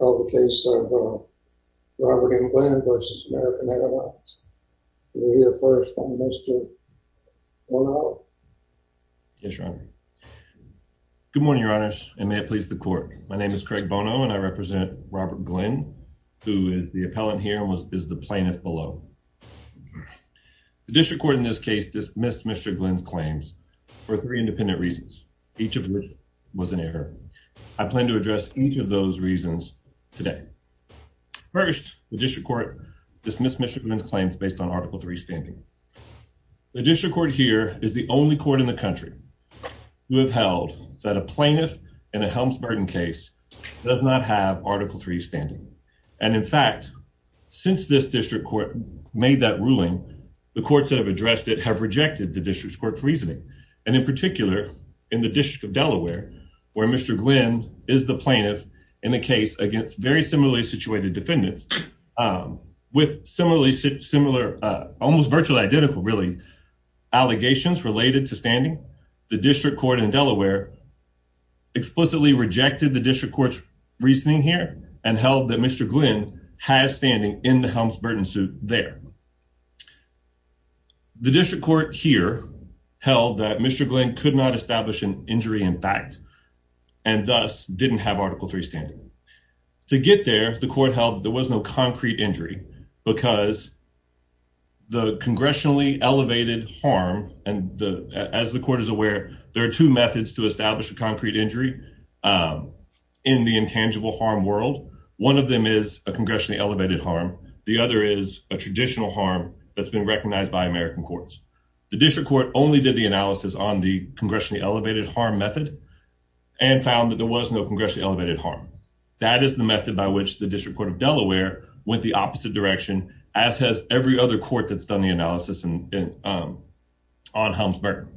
of the case of Robert M. Glenn versus American Airlines. We'll hear first from Mr. Bono. Yes, Your Honor. Good morning, Your Honors, and may it please the court. My name is Craig Bono, and I represent Robert Glenn, who is the appellant here and is the plaintiff below. The district court in this case dismissed Mr. Glenn's claims for three independent reasons, each of which was an error. I plan to address each of those reasons today. First, the district court dismissed Mr. Glenn's claims based on Article III standing. The district court here is the only court in the country who have held that a plaintiff in a Helms-Burton case does not have Article III standing. And in fact, since this district court made that ruling, the courts that have addressed it have rejected the district court's reasoning. And in particular, in the District of Delaware, where Mr. Glenn is the plaintiff in the case against very similarly situated defendants, with similar, almost virtually identical, really, allegations related to standing, the district court in Delaware explicitly rejected the district court's reasoning here and held that Mr. Glenn has standing in the Helms-Burton suit there. The district court here held that Mr. Glenn could not establish an injury in fact, and thus didn't have Article III standing. To get there, the court held there was no concrete injury because the congressionally elevated harm, and as the court is aware, there are two methods to establish a concrete injury in the intangible harm world. One of them is a congressionally elevated harm. The other is a traditional harm that's been recognized by American courts. The district court only did the analysis on the congressionally elevated harm method and found that there was no congressionally elevated harm. That is the method by which the District Court of Delaware went the opposite direction, as has every other court that's done the analysis on Helms-Burton.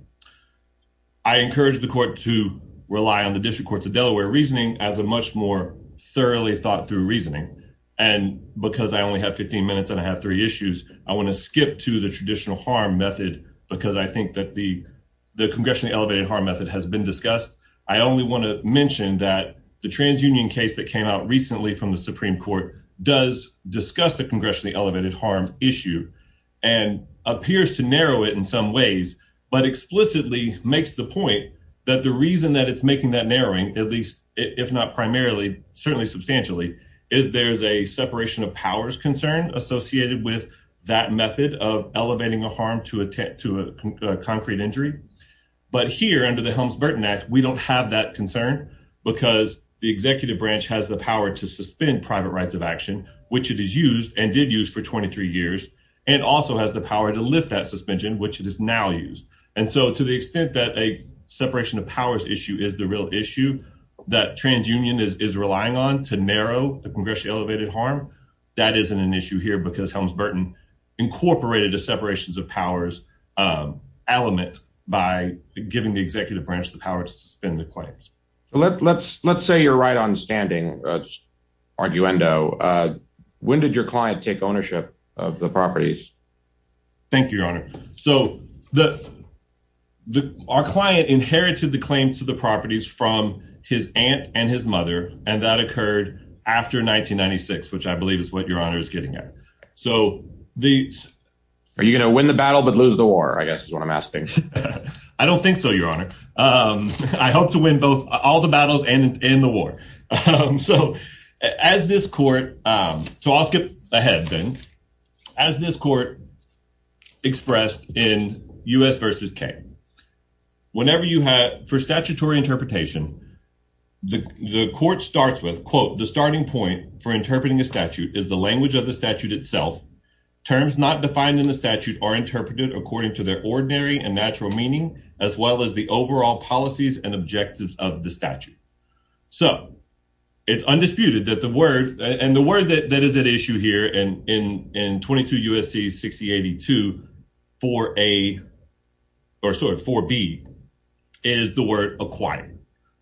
I encourage the court to rely on the District Courts of Delaware reasoning as a much more thoroughly thought through reasoning. And because I only have 15 minutes and I have three issues, I wanna skip to the traditional harm method because I think that the congressionally elevated harm method has been discussed. I only wanna mention that the TransUnion case that came out recently from the Supreme Court does discuss the congressionally elevated harm issue and appears to narrow it in some ways, but explicitly makes the point that the reason that it's making that narrowing, at least if not primarily, certainly substantially, is there's a separation of powers concern associated with that method of elevating a harm to a concrete injury. But here under the Helms-Burton Act, we don't have that concern because the executive branch has the power to suspend private rights of action, which it is used and did use for 23 years, and also has the power to lift that suspension, which it is now used. And so to the extent that a separation of powers issue is the real issue that TransUnion is relying on to narrow the congressionally elevated harm, that isn't an issue here because Helms-Burton incorporated a separations of powers element by giving the executive branch the power to suspend the claims. Let's say you're right on standing, that's arguendo, when did your client take ownership of the properties? Thank you, Your Honor. So our client inherited the claims to the properties from his aunt and his mother, and that occurred after 1996, which I believe is what Your Honor is getting at. So the- Are you gonna win the battle but lose the war, I guess is what I'm asking. I don't think so, Your Honor. I hope to win both all the battles and the war. So as this court, so I'll skip ahead then, as this court expressed in U.S. versus K, whenever you have, for statutory interpretation, the court starts with, quote, the starting point for interpreting a statute is the language of the statute itself. Terms not defined in the statute are interpreted according to their ordinary and natural meaning, as well as the overall policies and objectives of the statute. So it's undisputed that the word, and the word that is at issue here in 22 U.S.C. 6082-4A, or sorry, 4B, is the word acquire,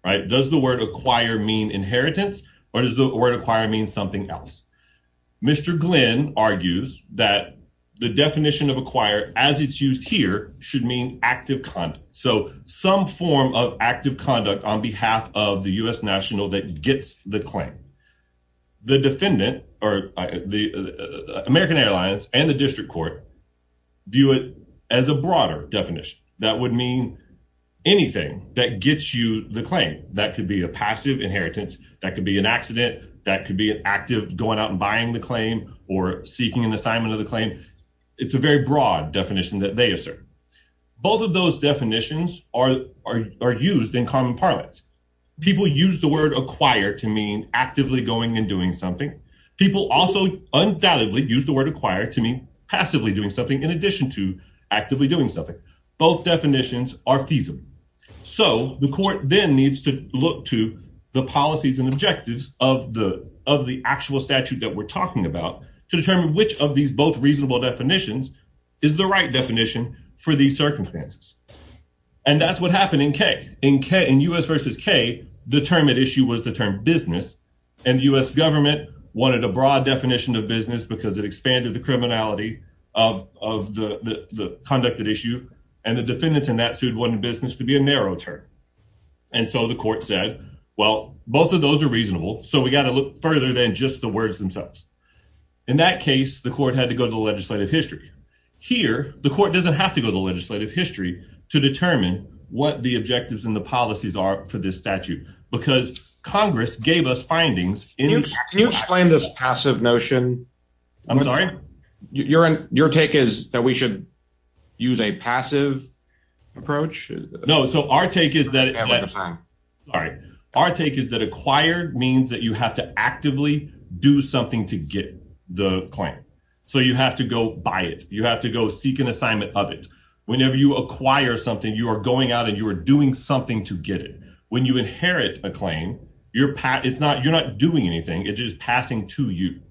right? Does the word acquire mean inheritance or does the word acquire mean something else? Mr. Glenn argues that the definition of acquire as it's used here should mean active conduct. So some form of active conduct on behalf of the U.S. national that gets the claim. The defendant or the American Airlines and the district court view it as a broader definition. That would mean anything that gets you the claim. That could be a passive inheritance, that could be an accident, that could be an active going out and buying the claim or seeking an assignment of the claim. It's a very broad definition that they assert. Both of those definitions are used in common parlance. People use the word acquire to mean actively going and doing something. People also undoubtedly use the word acquire to mean passively doing something in addition to actively doing something. Both definitions are feasible. So the court then needs to look to the policies and objectives of the actual statute that we're talking about to determine which of these both reasonable definitions is the right definition for these circumstances. And that's what happened in K. In U.S. versus K, the term at issue was the term business and the U.S. government wanted a broad definition of business because it expanded the criminality of the conducted issue and the defendants in that suit wanted business to be a narrow term. And so the court said, well, both of those are reasonable. So we got to look further than just the words themselves. In that case, the court had to go to the legislative history. Here, the court doesn't have to go to the legislative history to determine what the objectives and the policies are for this statute because Congress gave us findings in- Can you explain this passive notion? I'm sorry? Your take is that we should use a passive approach? No, so our take is that- I'm sorry. All right, our take is that acquired means that you have to actively do something to get the claim. So you have to go buy it. You have to go seek an assignment of it. Whenever you acquire something, you are going out and you are doing something to get it. When you inherit a claim, you're not doing anything. It is passing to you.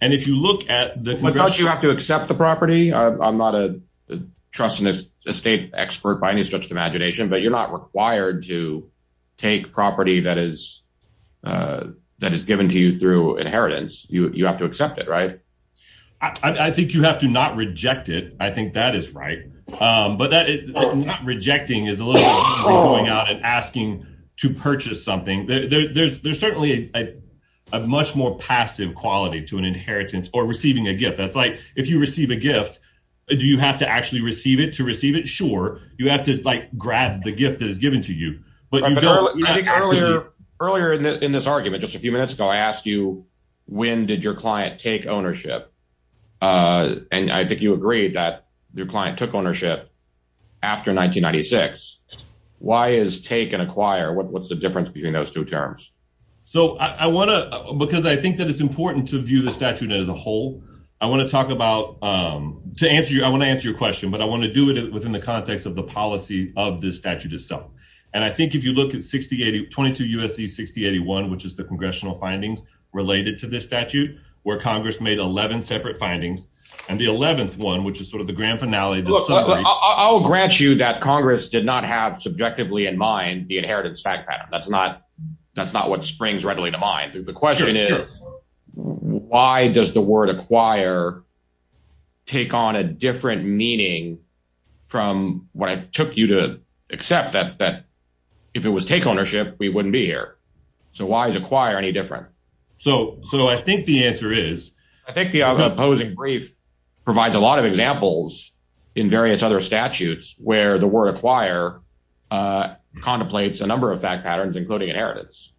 And if you look at the- But don't you have to accept the property? I'm not a trust and estate expert by any stretch of the imagination, but you're not required to take property that is given to you through inheritance. You have to accept it, right? I think you have to not reject it. I think that is right. But not rejecting is a little bit like going out and asking to purchase something. There's certainly a much more passive quality to an inheritance or receiving a gift. That's like, if you receive a gift, do you have to actually receive it to receive it? Sure. You have to grab the gift that is given to you. Earlier in this argument, just a few minutes ago, I asked you, when did your client take ownership? And I think you agreed that your client took ownership after 1996. Why is take and acquire? What's the difference between those two terms? So I wanna, because I think that it's important to view the statute as a whole, I wanna talk about, to answer you, I wanna answer your question, but I wanna do it within the context of the policy of this statute itself. And I think if you look at 62 U.S.C. 6081, which is the congressional findings related to this statute, where Congress made 11 separate findings, and the 11th one, which is sort of the grand finale- Look, I'll grant you that Congress did not have subjectively in mind the inheritance fact pattern. That's not what springs readily to mind. The question is, why does the word acquire take on a different meaning from what it took you to accept that if it was take ownership, we wouldn't be here? So why is acquire any different? So I think the answer is- I think the opposing brief provides a lot of examples in various other statutes where the word acquire contemplates a number of fact patterns, including inheritance.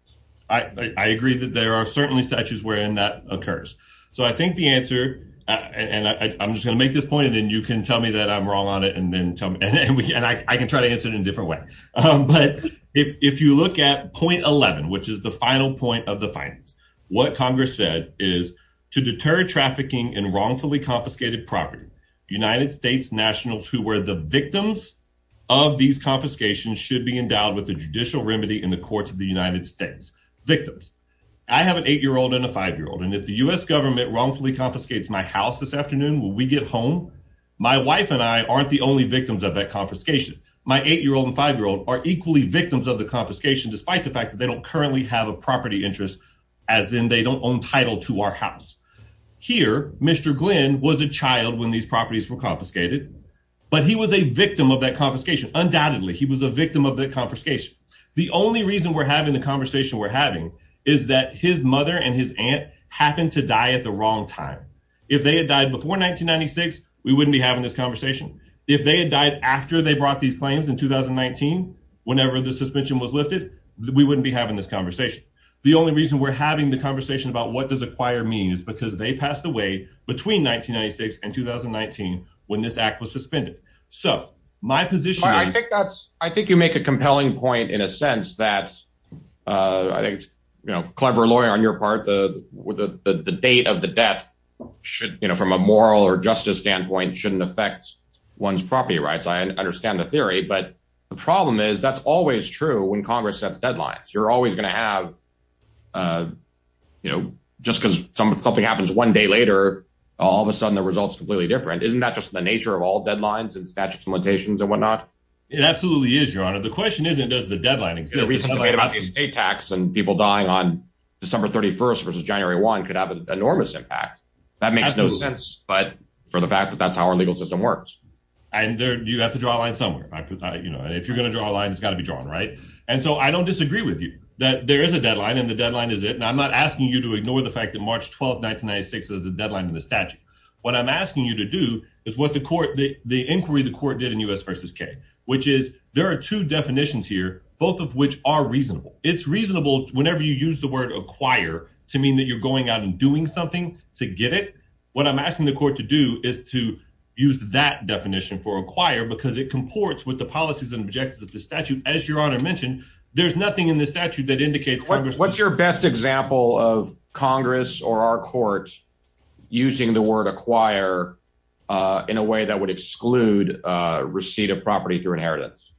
I agree that there are certainly statutes wherein that occurs. So I think the answer, and I'm just gonna make this point, and then you can tell me that I'm wrong on it, and then tell me, and I can try to answer it in a different way. But if you look at point 11, which is the final point of the findings, to deter trafficking in wrongfully confiscated property, United States nationals who were the victims of these confiscations should be endowed with a judicial remedy in the courts of the United States. Victims. I have an eight-year-old and a five-year-old, and if the US government wrongfully confiscates my house this afternoon when we get home, my wife and I aren't the only victims of that confiscation. My eight-year-old and five-year-old are equally victims of the confiscation, despite the fact that they don't currently have a property interest, as in they don't own title to our house. Here, Mr. Glenn was a child when these properties were confiscated, but he was a victim of that confiscation. Undoubtedly, he was a victim of that confiscation. The only reason we're having the conversation we're having is that his mother and his aunt happened to die at the wrong time. If they had died before 1996, we wouldn't be having this conversation. If they had died after they brought these claims in 2019, whenever the suspension was lifted, we wouldn't be having this conversation. The only reason we're having the conversation about what does acquire mean is because they passed away between 1996 and 2019 when this act was suspended. So my position is- I think you make a compelling point in a sense that I think, you know, clever lawyer on your part, the date of the death should, you know, from a moral or justice standpoint, shouldn't affect one's property rights. I understand the theory, but the problem is that's always true when Congress sets deadlines. You're always gonna have, you know, just because something happens one day later, all of a sudden the result's completely different. Isn't that just the nature of all deadlines and statutes and limitations and whatnot? It absolutely is, your honor. The question isn't does the deadline exist? The reason I'm talking about the estate tax and people dying on December 31st versus January 1 could have an enormous impact. That makes no sense, but for the fact that that's how our legal system works. And you have to draw a line somewhere. You know, if you're gonna draw a line, it's gotta be drawn, right? And so I don't disagree with you that there is a deadline and the deadline is it. And I'm not asking you to ignore the fact that March 12th, 1996, there's a deadline in the statute. What I'm asking you to do is what the court, the inquiry the court did in U.S. versus K, which is there are two definitions here, both of which are reasonable. It's reasonable whenever you use the word acquire to mean that you're going out and doing something to get it. What I'm asking the court to do is to use that definition for acquire because it comports with the policies and objectives of the statute. As your honor mentioned, there's nothing in the statute that indicates- What's your best example of Congress or our court using the word acquire in a way that would exclude receipt of property through inheritance?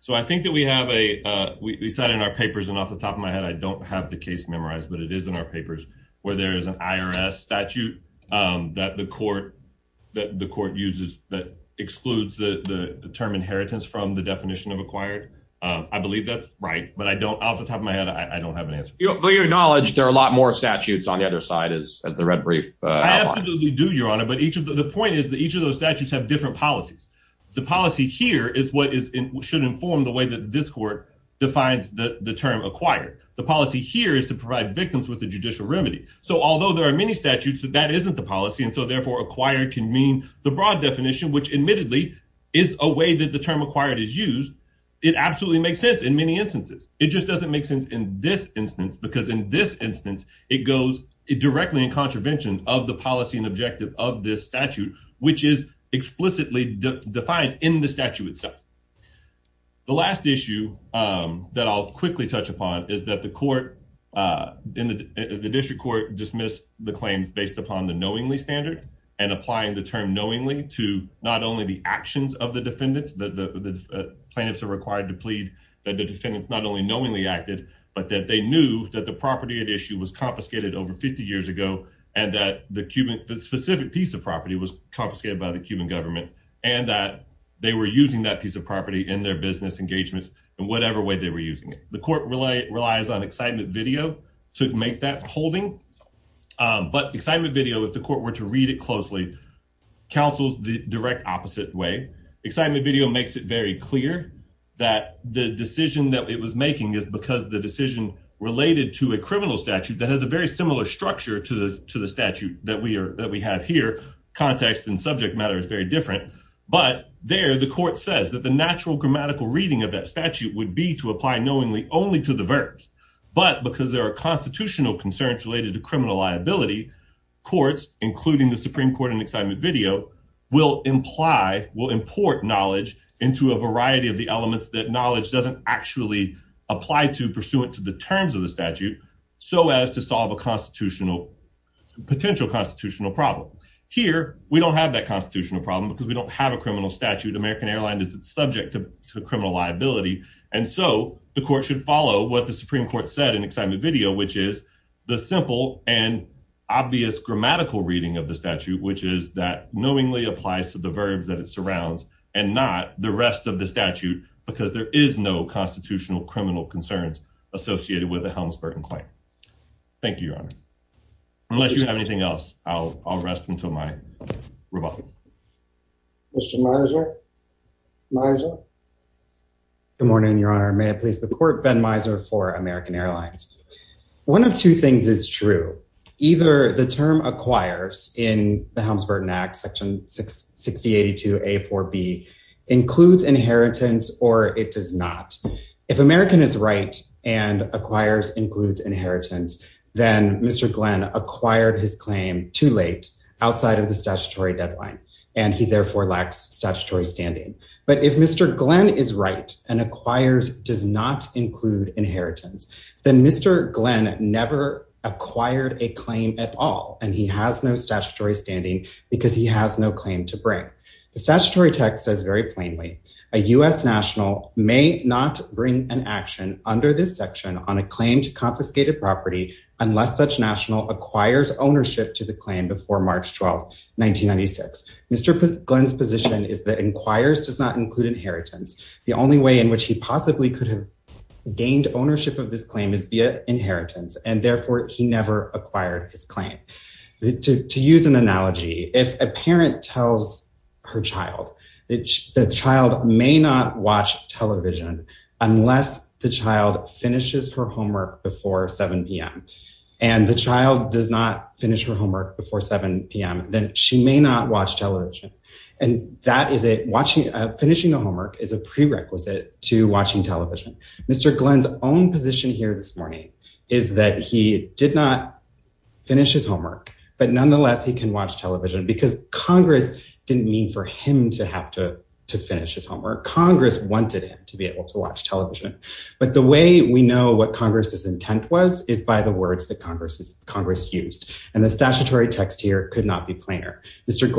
So I think that we have a, we sat in our papers and off the top of my head, I don't have the case memorized, but it is in our papers where there is an IRS statute that the court uses that excludes the term inheritance from the definition of acquired. I believe that's right, but I don't, off the top of my head, I don't have an answer. To your knowledge, there are a lot more statutes on the other side as the red brief outline. I absolutely do, your honor, but the point is that each of those statutes have different policies. The policy here is what should inform the way that this court defines the term acquired. The policy here is to provide victims with a judicial remedy. So although there are many statutes, that isn't the policy, and so therefore acquired can mean the broad definition, which admittedly is a way that the term acquired is used, it absolutely makes sense in many instances. It just doesn't make sense in this instance it goes directly in contravention of the policy and objective of this statute, which is explicitly defined in the statute itself. The last issue that I'll quickly touch upon is that the court in the district court dismissed the claims based upon the knowingly standard and applying the term knowingly to not only the actions of the defendants, the plaintiffs are required to plead that the defendants not only knowingly acted, but that they knew that the property at issue was confiscated over 50 years ago, and that the specific piece of property was confiscated by the Cuban government, and that they were using that piece of property in their business engagements in whatever way they were using it. The court relies on excitement video to make that holding, but excitement video, if the court were to read it closely, counsels the direct opposite way. Excitement video makes it very clear that the decision that it was making is because the decision related to a criminal statute that has a very similar structure to the statute that we have here, context and subject matter is very different, but there the court says that the natural grammatical reading of that statute would be to apply knowingly only to the verbs, but because there are constitutional concerns related to criminal liability, courts, including the Supreme Court and excitement video, will imply, will import knowledge into a variety of the elements that knowledge doesn't actually apply to pursuant to the terms of the statute, so as to solve a constitutional, potential constitutional problem. Here, we don't have that constitutional problem because we don't have a criminal statute, American Airline is subject to criminal liability, and so the court should follow what the Supreme Court said in excitement video, which is the simple and obvious grammatical reading of the statute, which is that knowingly applies to the verbs that it surrounds and not the rest of the statute, because there is no constitutional criminal concerns associated with the Helms-Burton claim. Thank you, Your Honor. Unless you have anything else, I'll rest until my rebuttal. Mr. Miser, Miser. Good morning, Your Honor. May I please the court, Ben Miser for American Airlines. One of two things is true, either the term acquires in the Helms-Burton Act, Section 6082A4B includes inheritance or it does not. If American is right and acquires includes inheritance, then Mr. Glenn acquired his claim too late outside of the statutory deadline, and he therefore lacks statutory standing. But if Mr. Glenn is right and acquires does not include inheritance, then Mr. Glenn never acquired a claim at all, and he has no statutory standing because he has no claim to bring. The statutory text says very plainly, a US national may not bring an action under this section on a claim to confiscated property unless such national acquires ownership to the claim before March 12th, 1996. Mr. Glenn's position is that inquires does not include inheritance. The only way in which he possibly could have gained ownership of this claim is via inheritance, and therefore he never acquired his claim. To use an analogy, if a parent tells her child that the child may not watch television unless the child finishes her homework before 7 p.m., and the child does not finish her homework before 7 p.m., then she may not watch television. And that is, finishing the homework is a prerequisite to watching television. Mr. Glenn's own position here this morning is that he did not finish his homework, but nonetheless, he can watch television because Congress didn't mean for him to have to finish his homework. Congress wanted him to be able to watch television. But the way we know what Congress's intent was is by the words that Congress used, and the statutory text here could not be plainer. Mr.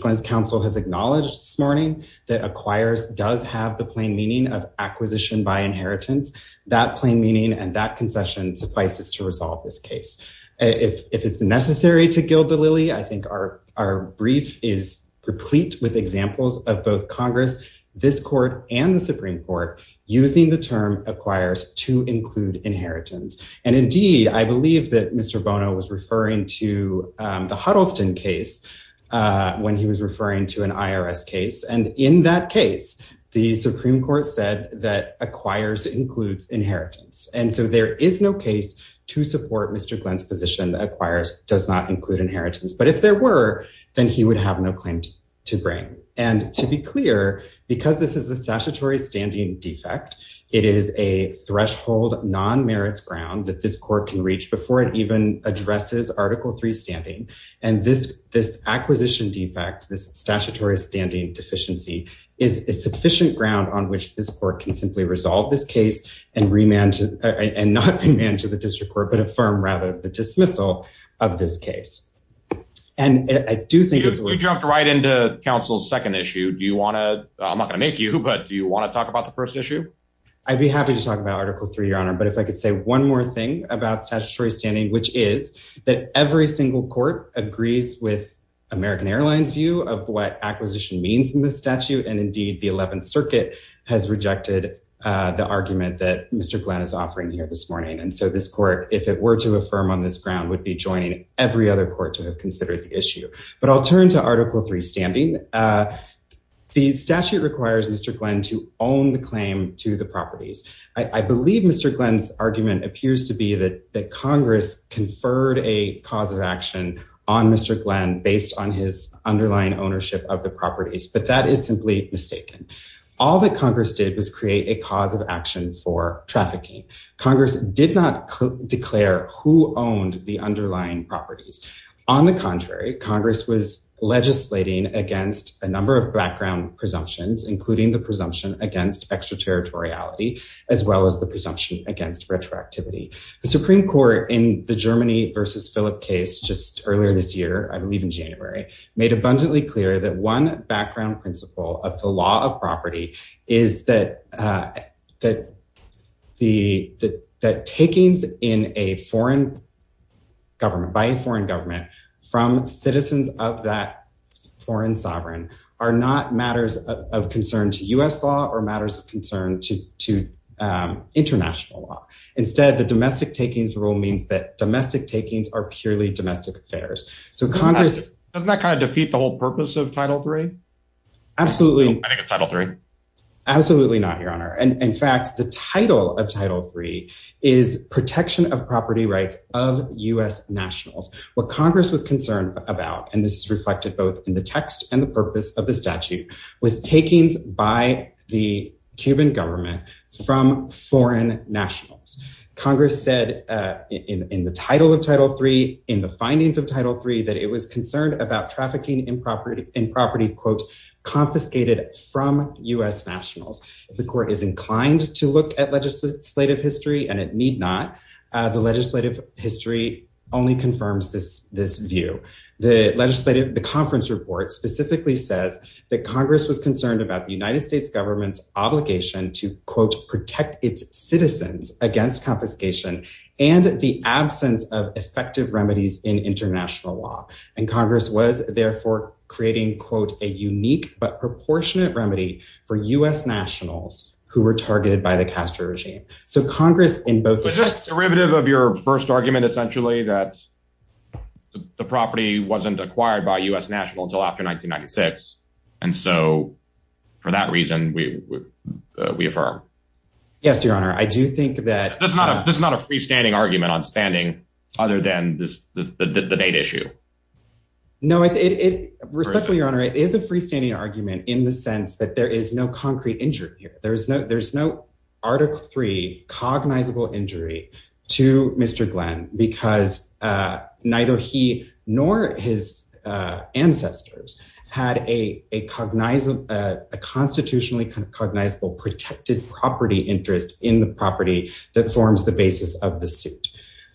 Glenn's counsel has acknowledged this morning that acquires does have the plain meaning of acquisition by inheritance. That plain meaning and that concession suffices to resolve this case. If it's necessary to gild the lily, I think our brief is replete with examples of both Congress, this court, and the Supreme Court using the term acquires to include inheritance. And indeed, I believe that Mr. Bono was referring to the Huddleston case when he was referring to an IRS case. And in that case, the Supreme Court said that acquires includes inheritance. And so there is no case to support Mr. Glenn's position that acquires does not include inheritance. But if there were, then he would have no claim to bring. And to be clear, because this is a statutory standing defect, it is a threshold non-merits ground that this court can reach before it even addresses Article III standing. And this acquisition defect, this statutory standing deficiency, is a sufficient ground on which this court can simply resolve this case and not remand to the district court, but affirm rather the dismissal of this case. And I do think it's- If we jump right into counsel's second issue, do you wanna, I'm not gonna make you, but do you wanna talk about the first issue? I'd be happy to talk about Article III, Your Honor. But if I could say one more thing about statutory standing, which is that every single court agrees with American Airlines' view of what acquisition means in this statute. And indeed the 11th Circuit has rejected the argument that Mr. Glenn is offering here this morning. And so this court, if it were to affirm on this ground, would be joining every other court to have considered the issue. But I'll turn to Article III standing. The statute requires Mr. Glenn to own the claim to the properties. I believe Mr. Glenn's argument appears to be that Congress conferred a cause of action on Mr. Glenn based on his underlying ownership of the properties, but that is simply mistaken. All that Congress did was create a cause of action for trafficking. Congress did not declare who owned the underlying properties. On the contrary, Congress was legislating against a number of background presumptions, including the presumption against extraterritoriality, as well as the presumption against retroactivity. The Supreme Court in the Germany versus Philip case just earlier this year, I believe in January, made abundantly clear that one background principle of the law of property is that takings in a foreign government, by a foreign government, from citizens of that foreign sovereign are not matters of concern to US law or matters of concern to international law. Instead, the domestic takings rule means that domestic takings are purely domestic affairs. Doesn't that kind of defeat the whole purpose of Title III? Absolutely. I think it's Title III. Absolutely not, Your Honor. And in fact, the title of Title III is protection of property rights of US nationals. What Congress was concerned about, and this is reflected both in the text and the purpose of the statute, was takings by the Cuban government from foreign nationals. Congress said in the title of Title III, in the findings of Title III, that it was concerned about trafficking in property, quote, confiscated from US nationals. If the court is inclined to look at legislative history and it need not, the legislative history only confirms this view. The conference report specifically says that Congress was concerned about the United States government's obligation to, quote, protect its citizens against confiscation and the absence of effective remedies in international law. And Congress was therefore creating, quote, a unique but proportionate remedy for US nationals who were targeted by the Castro regime. So Congress in both the text- Is this derivative of your first argument essentially that the property wasn't acquired by US national until after 1996? And so for that reason, we affirm. Yes, Your Honor. I do think that- This is not a freestanding argument on standing other than the date issue. No, respectfully, Your Honor, it is a freestanding argument in the sense that there is no concrete injury here. There's no Article III cognizable injury to Mr. Glenn because neither he nor his ancestors had a constitutionally kind of cognizable protected property interest in the property that forms the basis of the suit.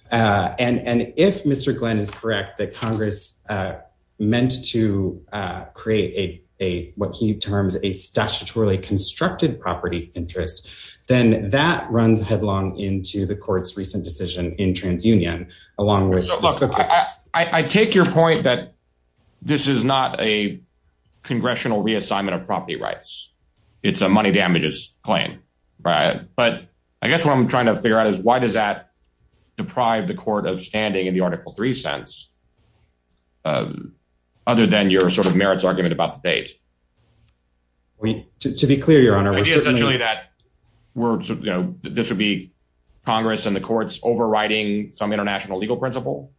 And if Mr. Glenn is correct that Congress meant to create a, what he terms, a statutorily constructed property interest, then that runs headlong into the court's recent decision in TransUnion along with- So look, I take your point that this is not a congressional reassignment of property rights. It's a money damages claim, right? But I guess what I'm trying to figure out is why does that deprive the court of standing in the Article III sense other than your sort of merits argument about the date? To be clear, Your Honor- The idea essentially that this would be Congress and the courts overriding some international legal principle?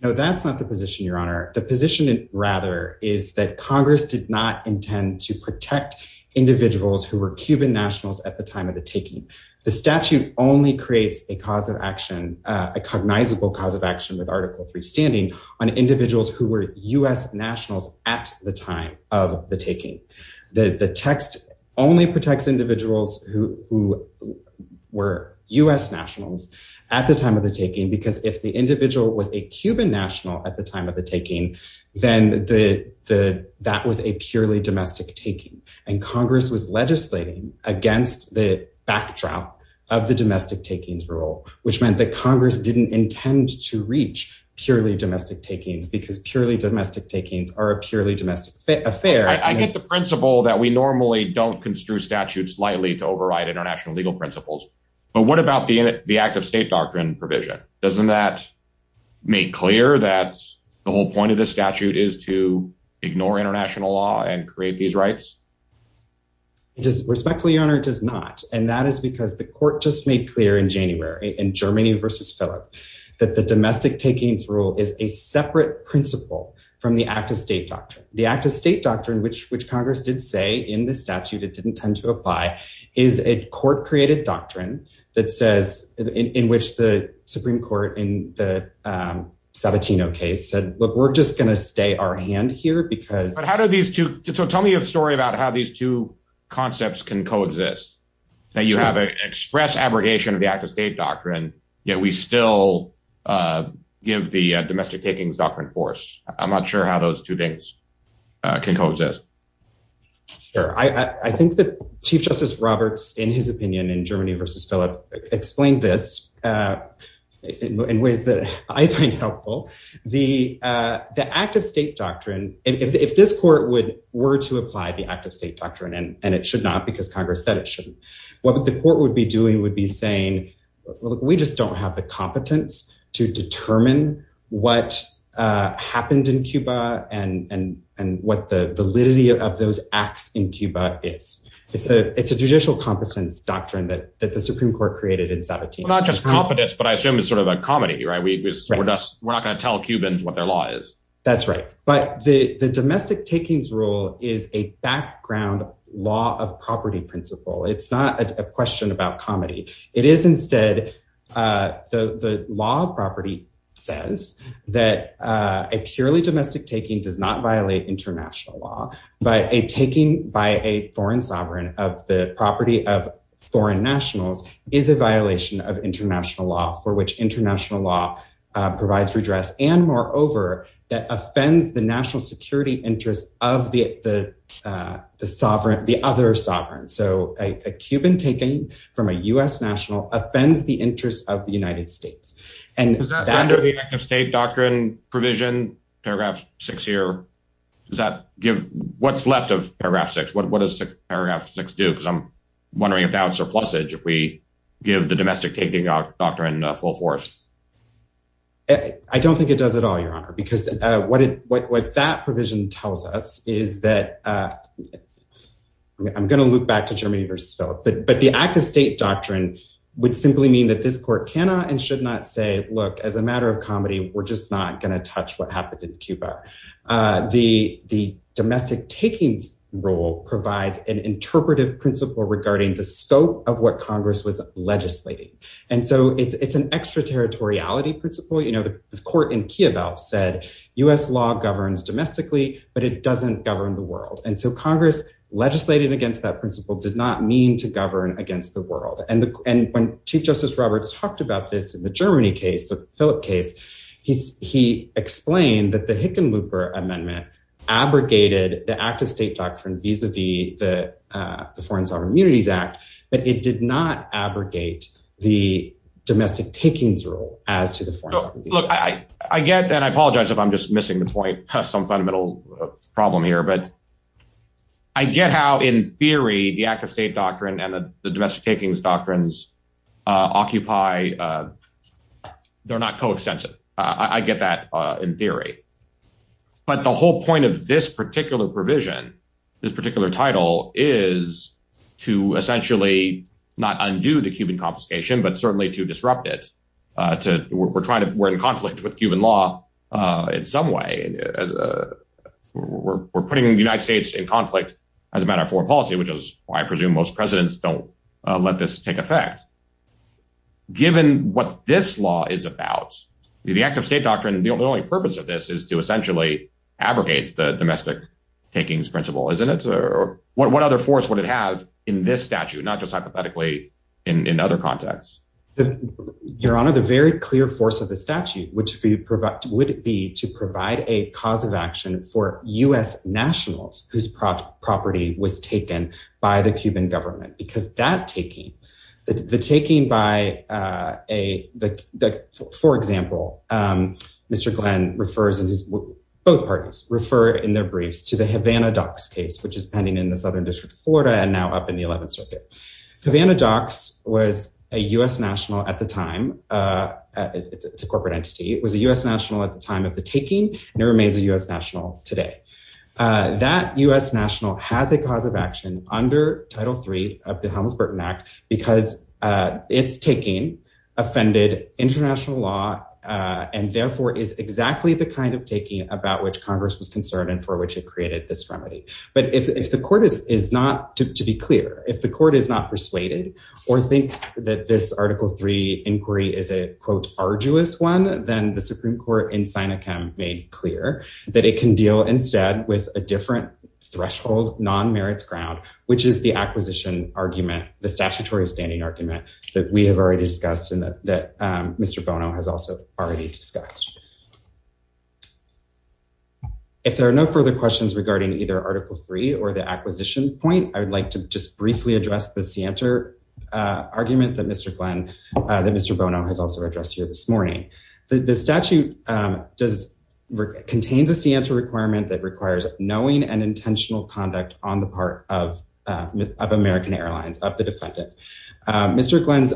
No, that's not the position, Your Honor. The position rather is that Congress did not intend to protect individuals who were Cuban nationals at the time of the taking. The statute only creates a cause of action, a cognizable cause of action with Article III standing on individuals who were US nationals at the time of the taking. The text only protects individuals who were US nationals at the time of the taking because if the individual was a Cuban national at the time of the taking, then that was a purely domestic taking. And Congress was legislating against the backdrop of the domestic takings rule, which meant that Congress didn't intend to reach purely domestic takings because purely domestic takings are a purely domestic affair. I get the principle that we normally don't construe statutes lightly to override international legal principles, but what about the act of state doctrine provision? Doesn't that make clear that the whole point of this statute is to ignore international law and create these rights? It does, respectfully, Your Honor, it does not. And that is because the court just made clear in January in Germany versus Philip, that the domestic takings rule is a separate principle from the act of state doctrine. The act of state doctrine, which Congress did say in the statute, it didn't tend to apply, is a court-created doctrine that says, in which the Supreme Court in the Sabatino case said, look, we're just gonna stay our hand here because- So tell me a story about how these two concepts can co-exist that you have an express abrogation of the act of state doctrine, yet we still give the domestic takings doctrine force. I'm not sure how those two things can co-exist. Sure, I think that Chief Justice Roberts, in his opinion in Germany versus Philip, explained this in ways that I find helpful. The act of state doctrine, if this court were to apply the act of state doctrine, and it should not because Congress said it shouldn't, what the court would be doing would be saying, look, we just don't have the competence to determine what happened in Cuba and what the validity of those acts in Cuba is. It's a judicial competence doctrine that the Supreme Court created in Sabatino. Well, not just competence, but I assume it's sort of a comedy, right? We're not gonna tell Cubans what their law is. That's right. But the domestic takings rule is a background law of property principle. It's not a question about comedy. It is instead, the law of property says that a purely domestic taking does not violate international law, but a taking by a foreign sovereign of the property of foreign nationals is a violation of international law for which international law provides redress. And moreover, that offends the national security interest of the other sovereign. So a Cuban taking from a US national offends the interest of the United States. And that- Does that stand under the act of state doctrine provision, paragraph six here? Does that give, what's left of paragraph six? What does paragraph six do? Because I'm wondering if that would surplusage if we give the domestic taking doctrine full force. I don't think it does at all, Your Honor, because what that provision tells us is that, I'm gonna loop back to Germany versus Philip, but the act of state doctrine would simply mean that this court cannot and should not say, look, as a matter of comedy, we're just not gonna touch what happened in Cuba. The domestic takings rule provides an interpretive principle regarding the scope of what Congress was legislating. And so it's an extraterritoriality principle. This court in Kiev said, US law governs domestically, but it doesn't govern the world. And so Congress legislating against that principle did not mean to govern against the world. And when Chief Justice Roberts talked about this in the Germany case, the Philip case, he explained that the Hickenlooper Amendment abrogated the act of state doctrine vis-a-vis the Foreign Sovereign Immunities Act, but it did not abrogate the domestic takings rule as to the Foreign Sovereign Immunities Act. I get that. I apologize if I'm just missing the point, some fundamental problem here, but I get how, in theory, the act of state doctrine and the domestic takings doctrines occupy, they're not coextensive. I get that in theory. But the whole point of this particular provision, this particular title, is to essentially not undo the Cuban confiscation, but certainly to disrupt it. We're in conflict with Cuban law in some way. We're putting the United States in conflict as a matter of foreign policy, which is why I presume most presidents don't let this take effect. Given what this law is about, the act of state doctrine, the only purpose of this is to essentially abrogate the domestic takings principle, isn't it? What other force would it have in this statute, not just hypothetically in other contexts? Your Honor, the very clear force of the statute, which would be to provide a cause of action for U.S. nationals whose property was taken by the Cuban government, because that taking, the taking by, for example, Mr. Glenn refers, both parties refer in their briefs to the Havana docks case, which is pending in the Southern District of Florida and now up in the 11th Circuit. Havana docks was a U.S. national at the time, it's a corporate entity, it was a U.S. national at the time of the taking, and it remains a U.S. national today. That U.S. national has a cause of action under Title III of the Helms-Burton Act because it's taking offended international law, and therefore is exactly the kind of taking about which Congress was concerned and for which it created this remedy. But if the court is not, to be clear, if the court is not persuaded or thinks that this Article III inquiry is a, quote, arduous one, then the Supreme Court in Synacam made clear that it can deal instead with a different threshold, non-merits ground, which is the acquisition argument, the statutory standing argument that we have already discussed and that Mr. Bono has also already discussed. If there are no further questions regarding either Article III or the acquisition point, I would like to just briefly address the scienter argument that Mr. Glenn, that Mr. Bono has also addressed here this morning. The statute does, contains a scienter requirement that requires knowing and intentional conduct on the part of American Airlines, of the defendant. Mr. Glenn's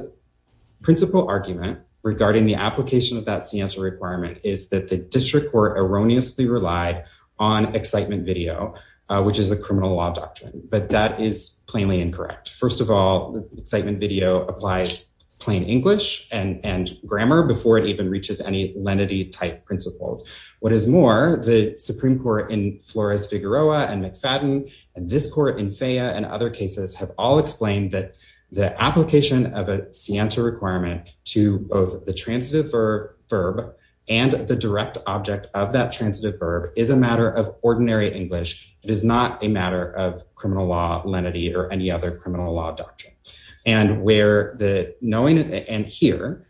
principle argument regarding the application of that scienter requirement is that the district court erroneously relied on excitement video, which is a criminal law doctrine, but that is plainly incorrect. First of all, excitement video applies plain English and grammar before it even reaches any lenity type principles. What is more, the Supreme Court in Flores-Figueroa and McFadden and this court in FAYA and other cases have all explained that the application of a scienter requirement to both the transitive verb and the direct object of that transitive verb is a matter of ordinary English. It is not a matter of criminal law lenity or any other criminal law doctrine. And where the knowing and here,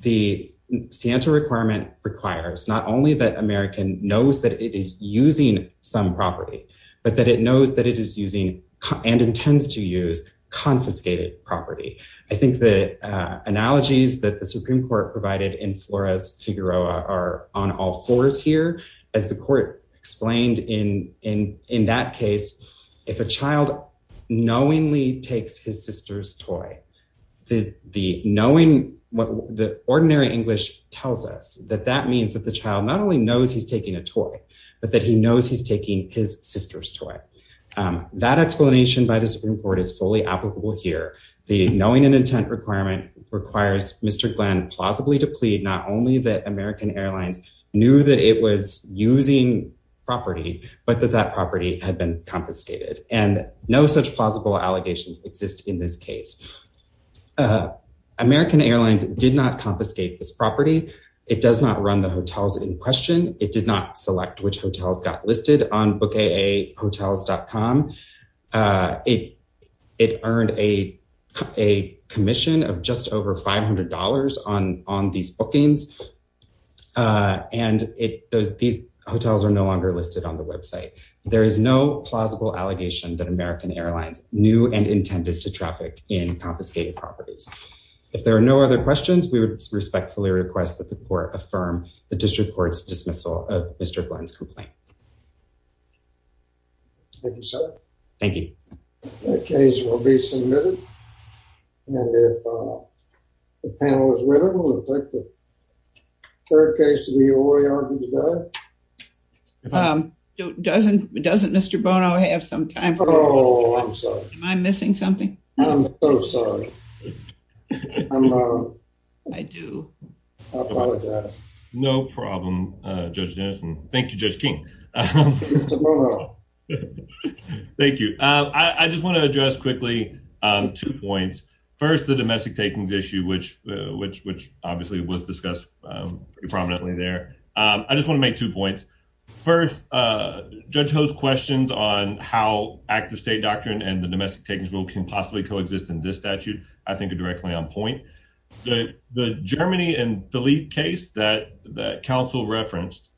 the scienter requirement requires not only that American knows that it is using some property, but that it knows that it is using and intends to use confiscated property. I think the analogies that the Supreme Court provided in Flores-Figueroa are on all fours here, as the court explained in that case, if a child knowingly takes his sister's toy, the ordinary English tells us that that means that the child not only knows he's taking a toy, but that he knows he's taking his sister's toy. That explanation by the Supreme Court is fully applicable here. The knowing and intent requirement requires Mr. Glenn plausibly to plead not only that American Airlines knew that it was using property, but that that property had been confiscated. And no such plausible allegations exist in this case. American Airlines did not confiscate this property. It does not run the hotels in question. It did not select which hotels got listed on bookAAhotels.com. It earned a commission of just over $500 on these bookings. And these hotels are no longer listed on the website. There is no plausible allegation that American Airlines knew and intended to traffic in confiscated properties. If there are no other questions, we would respectfully request that the court affirm the district court's dismissal of Mr. Glenn's complaint. Thank you, sir. Thank you. That case will be submitted. And if the panel is ready, we'll take the third case to the oriole today. Doesn't Mr. Bono have some time for a moment? Oh, I'm sorry. Am I missing something? I'm so sorry. I do. I apologize. No problem, Judge Jenison. Thank you, Judge King. Mr. Bono. Thank you. I just want to address quickly two points. First, the domestic takings issue, which obviously was discussed pretty prominently there. I just want to make two points. First, Judge Ho's questions on how active state doctrine and the domestic takings rule can possibly coexist in this statute, I think are directly on point. The Germany and Philippe case that counsel referenced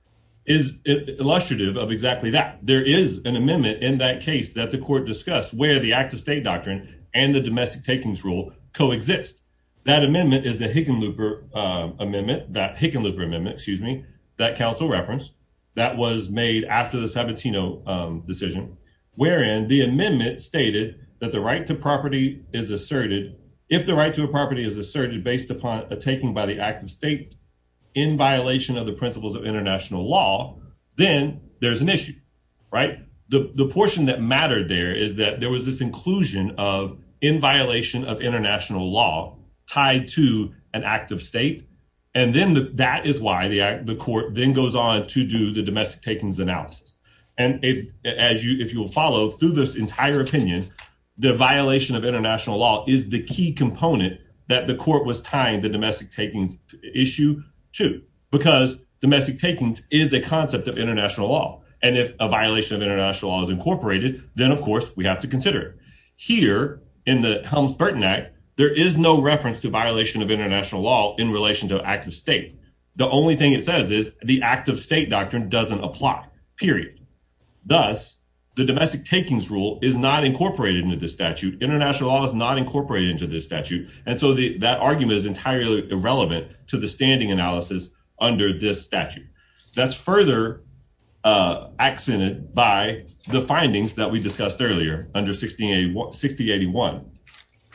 is illustrative of exactly that. There is an amendment in that case that the court discussed where the active state doctrine and the domestic takings rule coexist. That amendment is the Hickenlooper amendment, that Hickenlooper amendment, excuse me, that counsel referenced that was made after the Sabatino decision, wherein the amendment stated that the right to property is asserted if the right to a property is asserted based upon a taking by the active state in violation of the principles of international law, then there's an issue, right? The portion that mattered there is that there was this inclusion of in violation of international law tied to an active state. And then that is why the court then goes on to do the domestic takings analysis. And if you'll follow through this entire opinion, the violation of international law is the key component that the court was tying the domestic takings issue to, because domestic takings is a concept of international law. And if a violation of international law is incorporated, then of course we have to consider it. Here in the Helms-Burton Act, there is no reference to violation of international law in relation to active state. The only thing it says is the active state doctrine doesn't apply, period. Thus, the domestic takings rule is not incorporated into this statute. International law is not incorporated into this statute. And so that argument is entirely irrelevant to the standing analysis under this statute. That's further accented by the findings that we discussed earlier under 6081,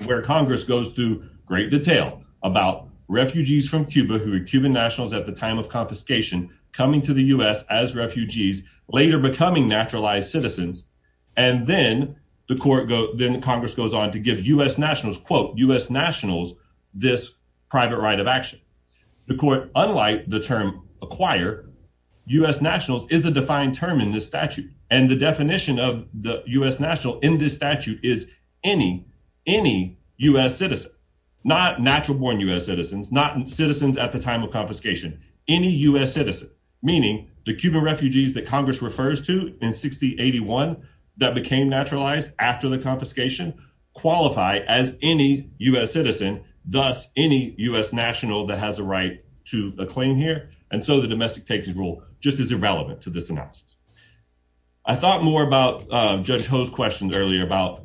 where Congress goes through great detail about refugees from Cuba who were Cuban nationals at the time of confiscation coming to the U.S. as refugees, later becoming naturalized citizens. And then Congress goes on to give U.S. nationals, quote, U.S. nationals, this private right of action. The court, unlike the term acquire, U.S. nationals is a defined term in this statute. And the definition of the U.S. national in this statute is any U.S. citizen, not natural born U.S. citizens, not citizens at the time of confiscation, any U.S. citizen, meaning the Cuban refugees that Congress refers to in 6081 that became naturalized after the confiscation, qualify as any U.S. citizen, thus any U.S. national that has a right to a claim here. And so the domestic taking rule just is irrelevant to this analysis. I thought more about Judge Ho's questions earlier about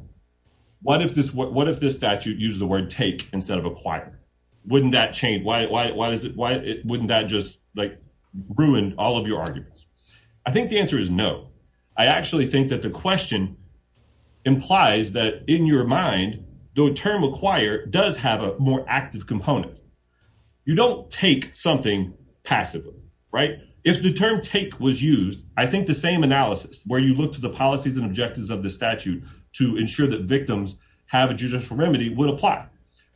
what if this statute uses the word take instead of acquire? Wouldn't that change? Why wouldn't that just like ruin all of your arguments? I think the answer is no. I actually think that the question implies that in your mind, the term acquire does have a more active component. You don't take something passively, right? If the term take was used, I think the same analysis where you look to the policies and objectives of the statute to ensure that victims have a judicial remedy would apply.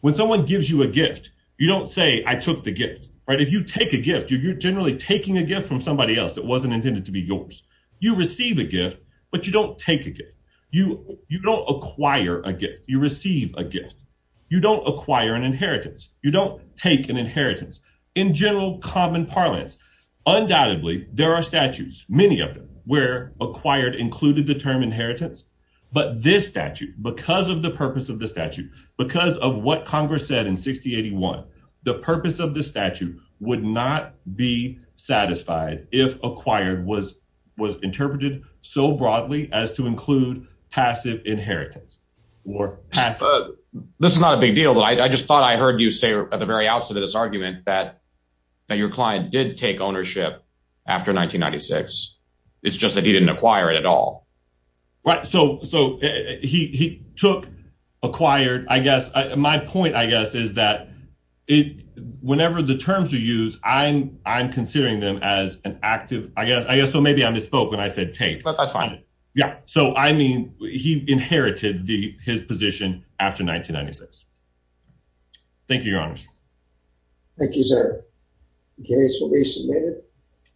When someone gives you a gift, you don't say I took the gift, right? If you take a gift, you're generally taking a gift from somebody else that wasn't intended to be yours. You receive a gift, but you don't take a gift. You don't acquire a gift. You receive a gift. You don't acquire an inheritance. You don't take an inheritance. In general common parlance, undoubtedly there are statutes, many of them, where acquired included the term inheritance, but this statute, because of the purpose of the statute, because of what Congress said in 6081, the purpose of the statute would not be satisfied if acquired was interpreted so broadly as to include passive inheritance or passive. This is not a big deal, but I just thought I heard you say at the very outset of this argument that your client did take ownership after 1996. It's just that he didn't acquire it at all. Right, so he took acquired, I guess. My point, I guess, is that whenever the terms are used, I'm considering them as an active, I guess, so maybe I misspoke when I said take. But that's fine. Yeah, so I mean, he inherited his position after 1996. Thank you, Your Honors. Thank you, sir. The case will be submitted.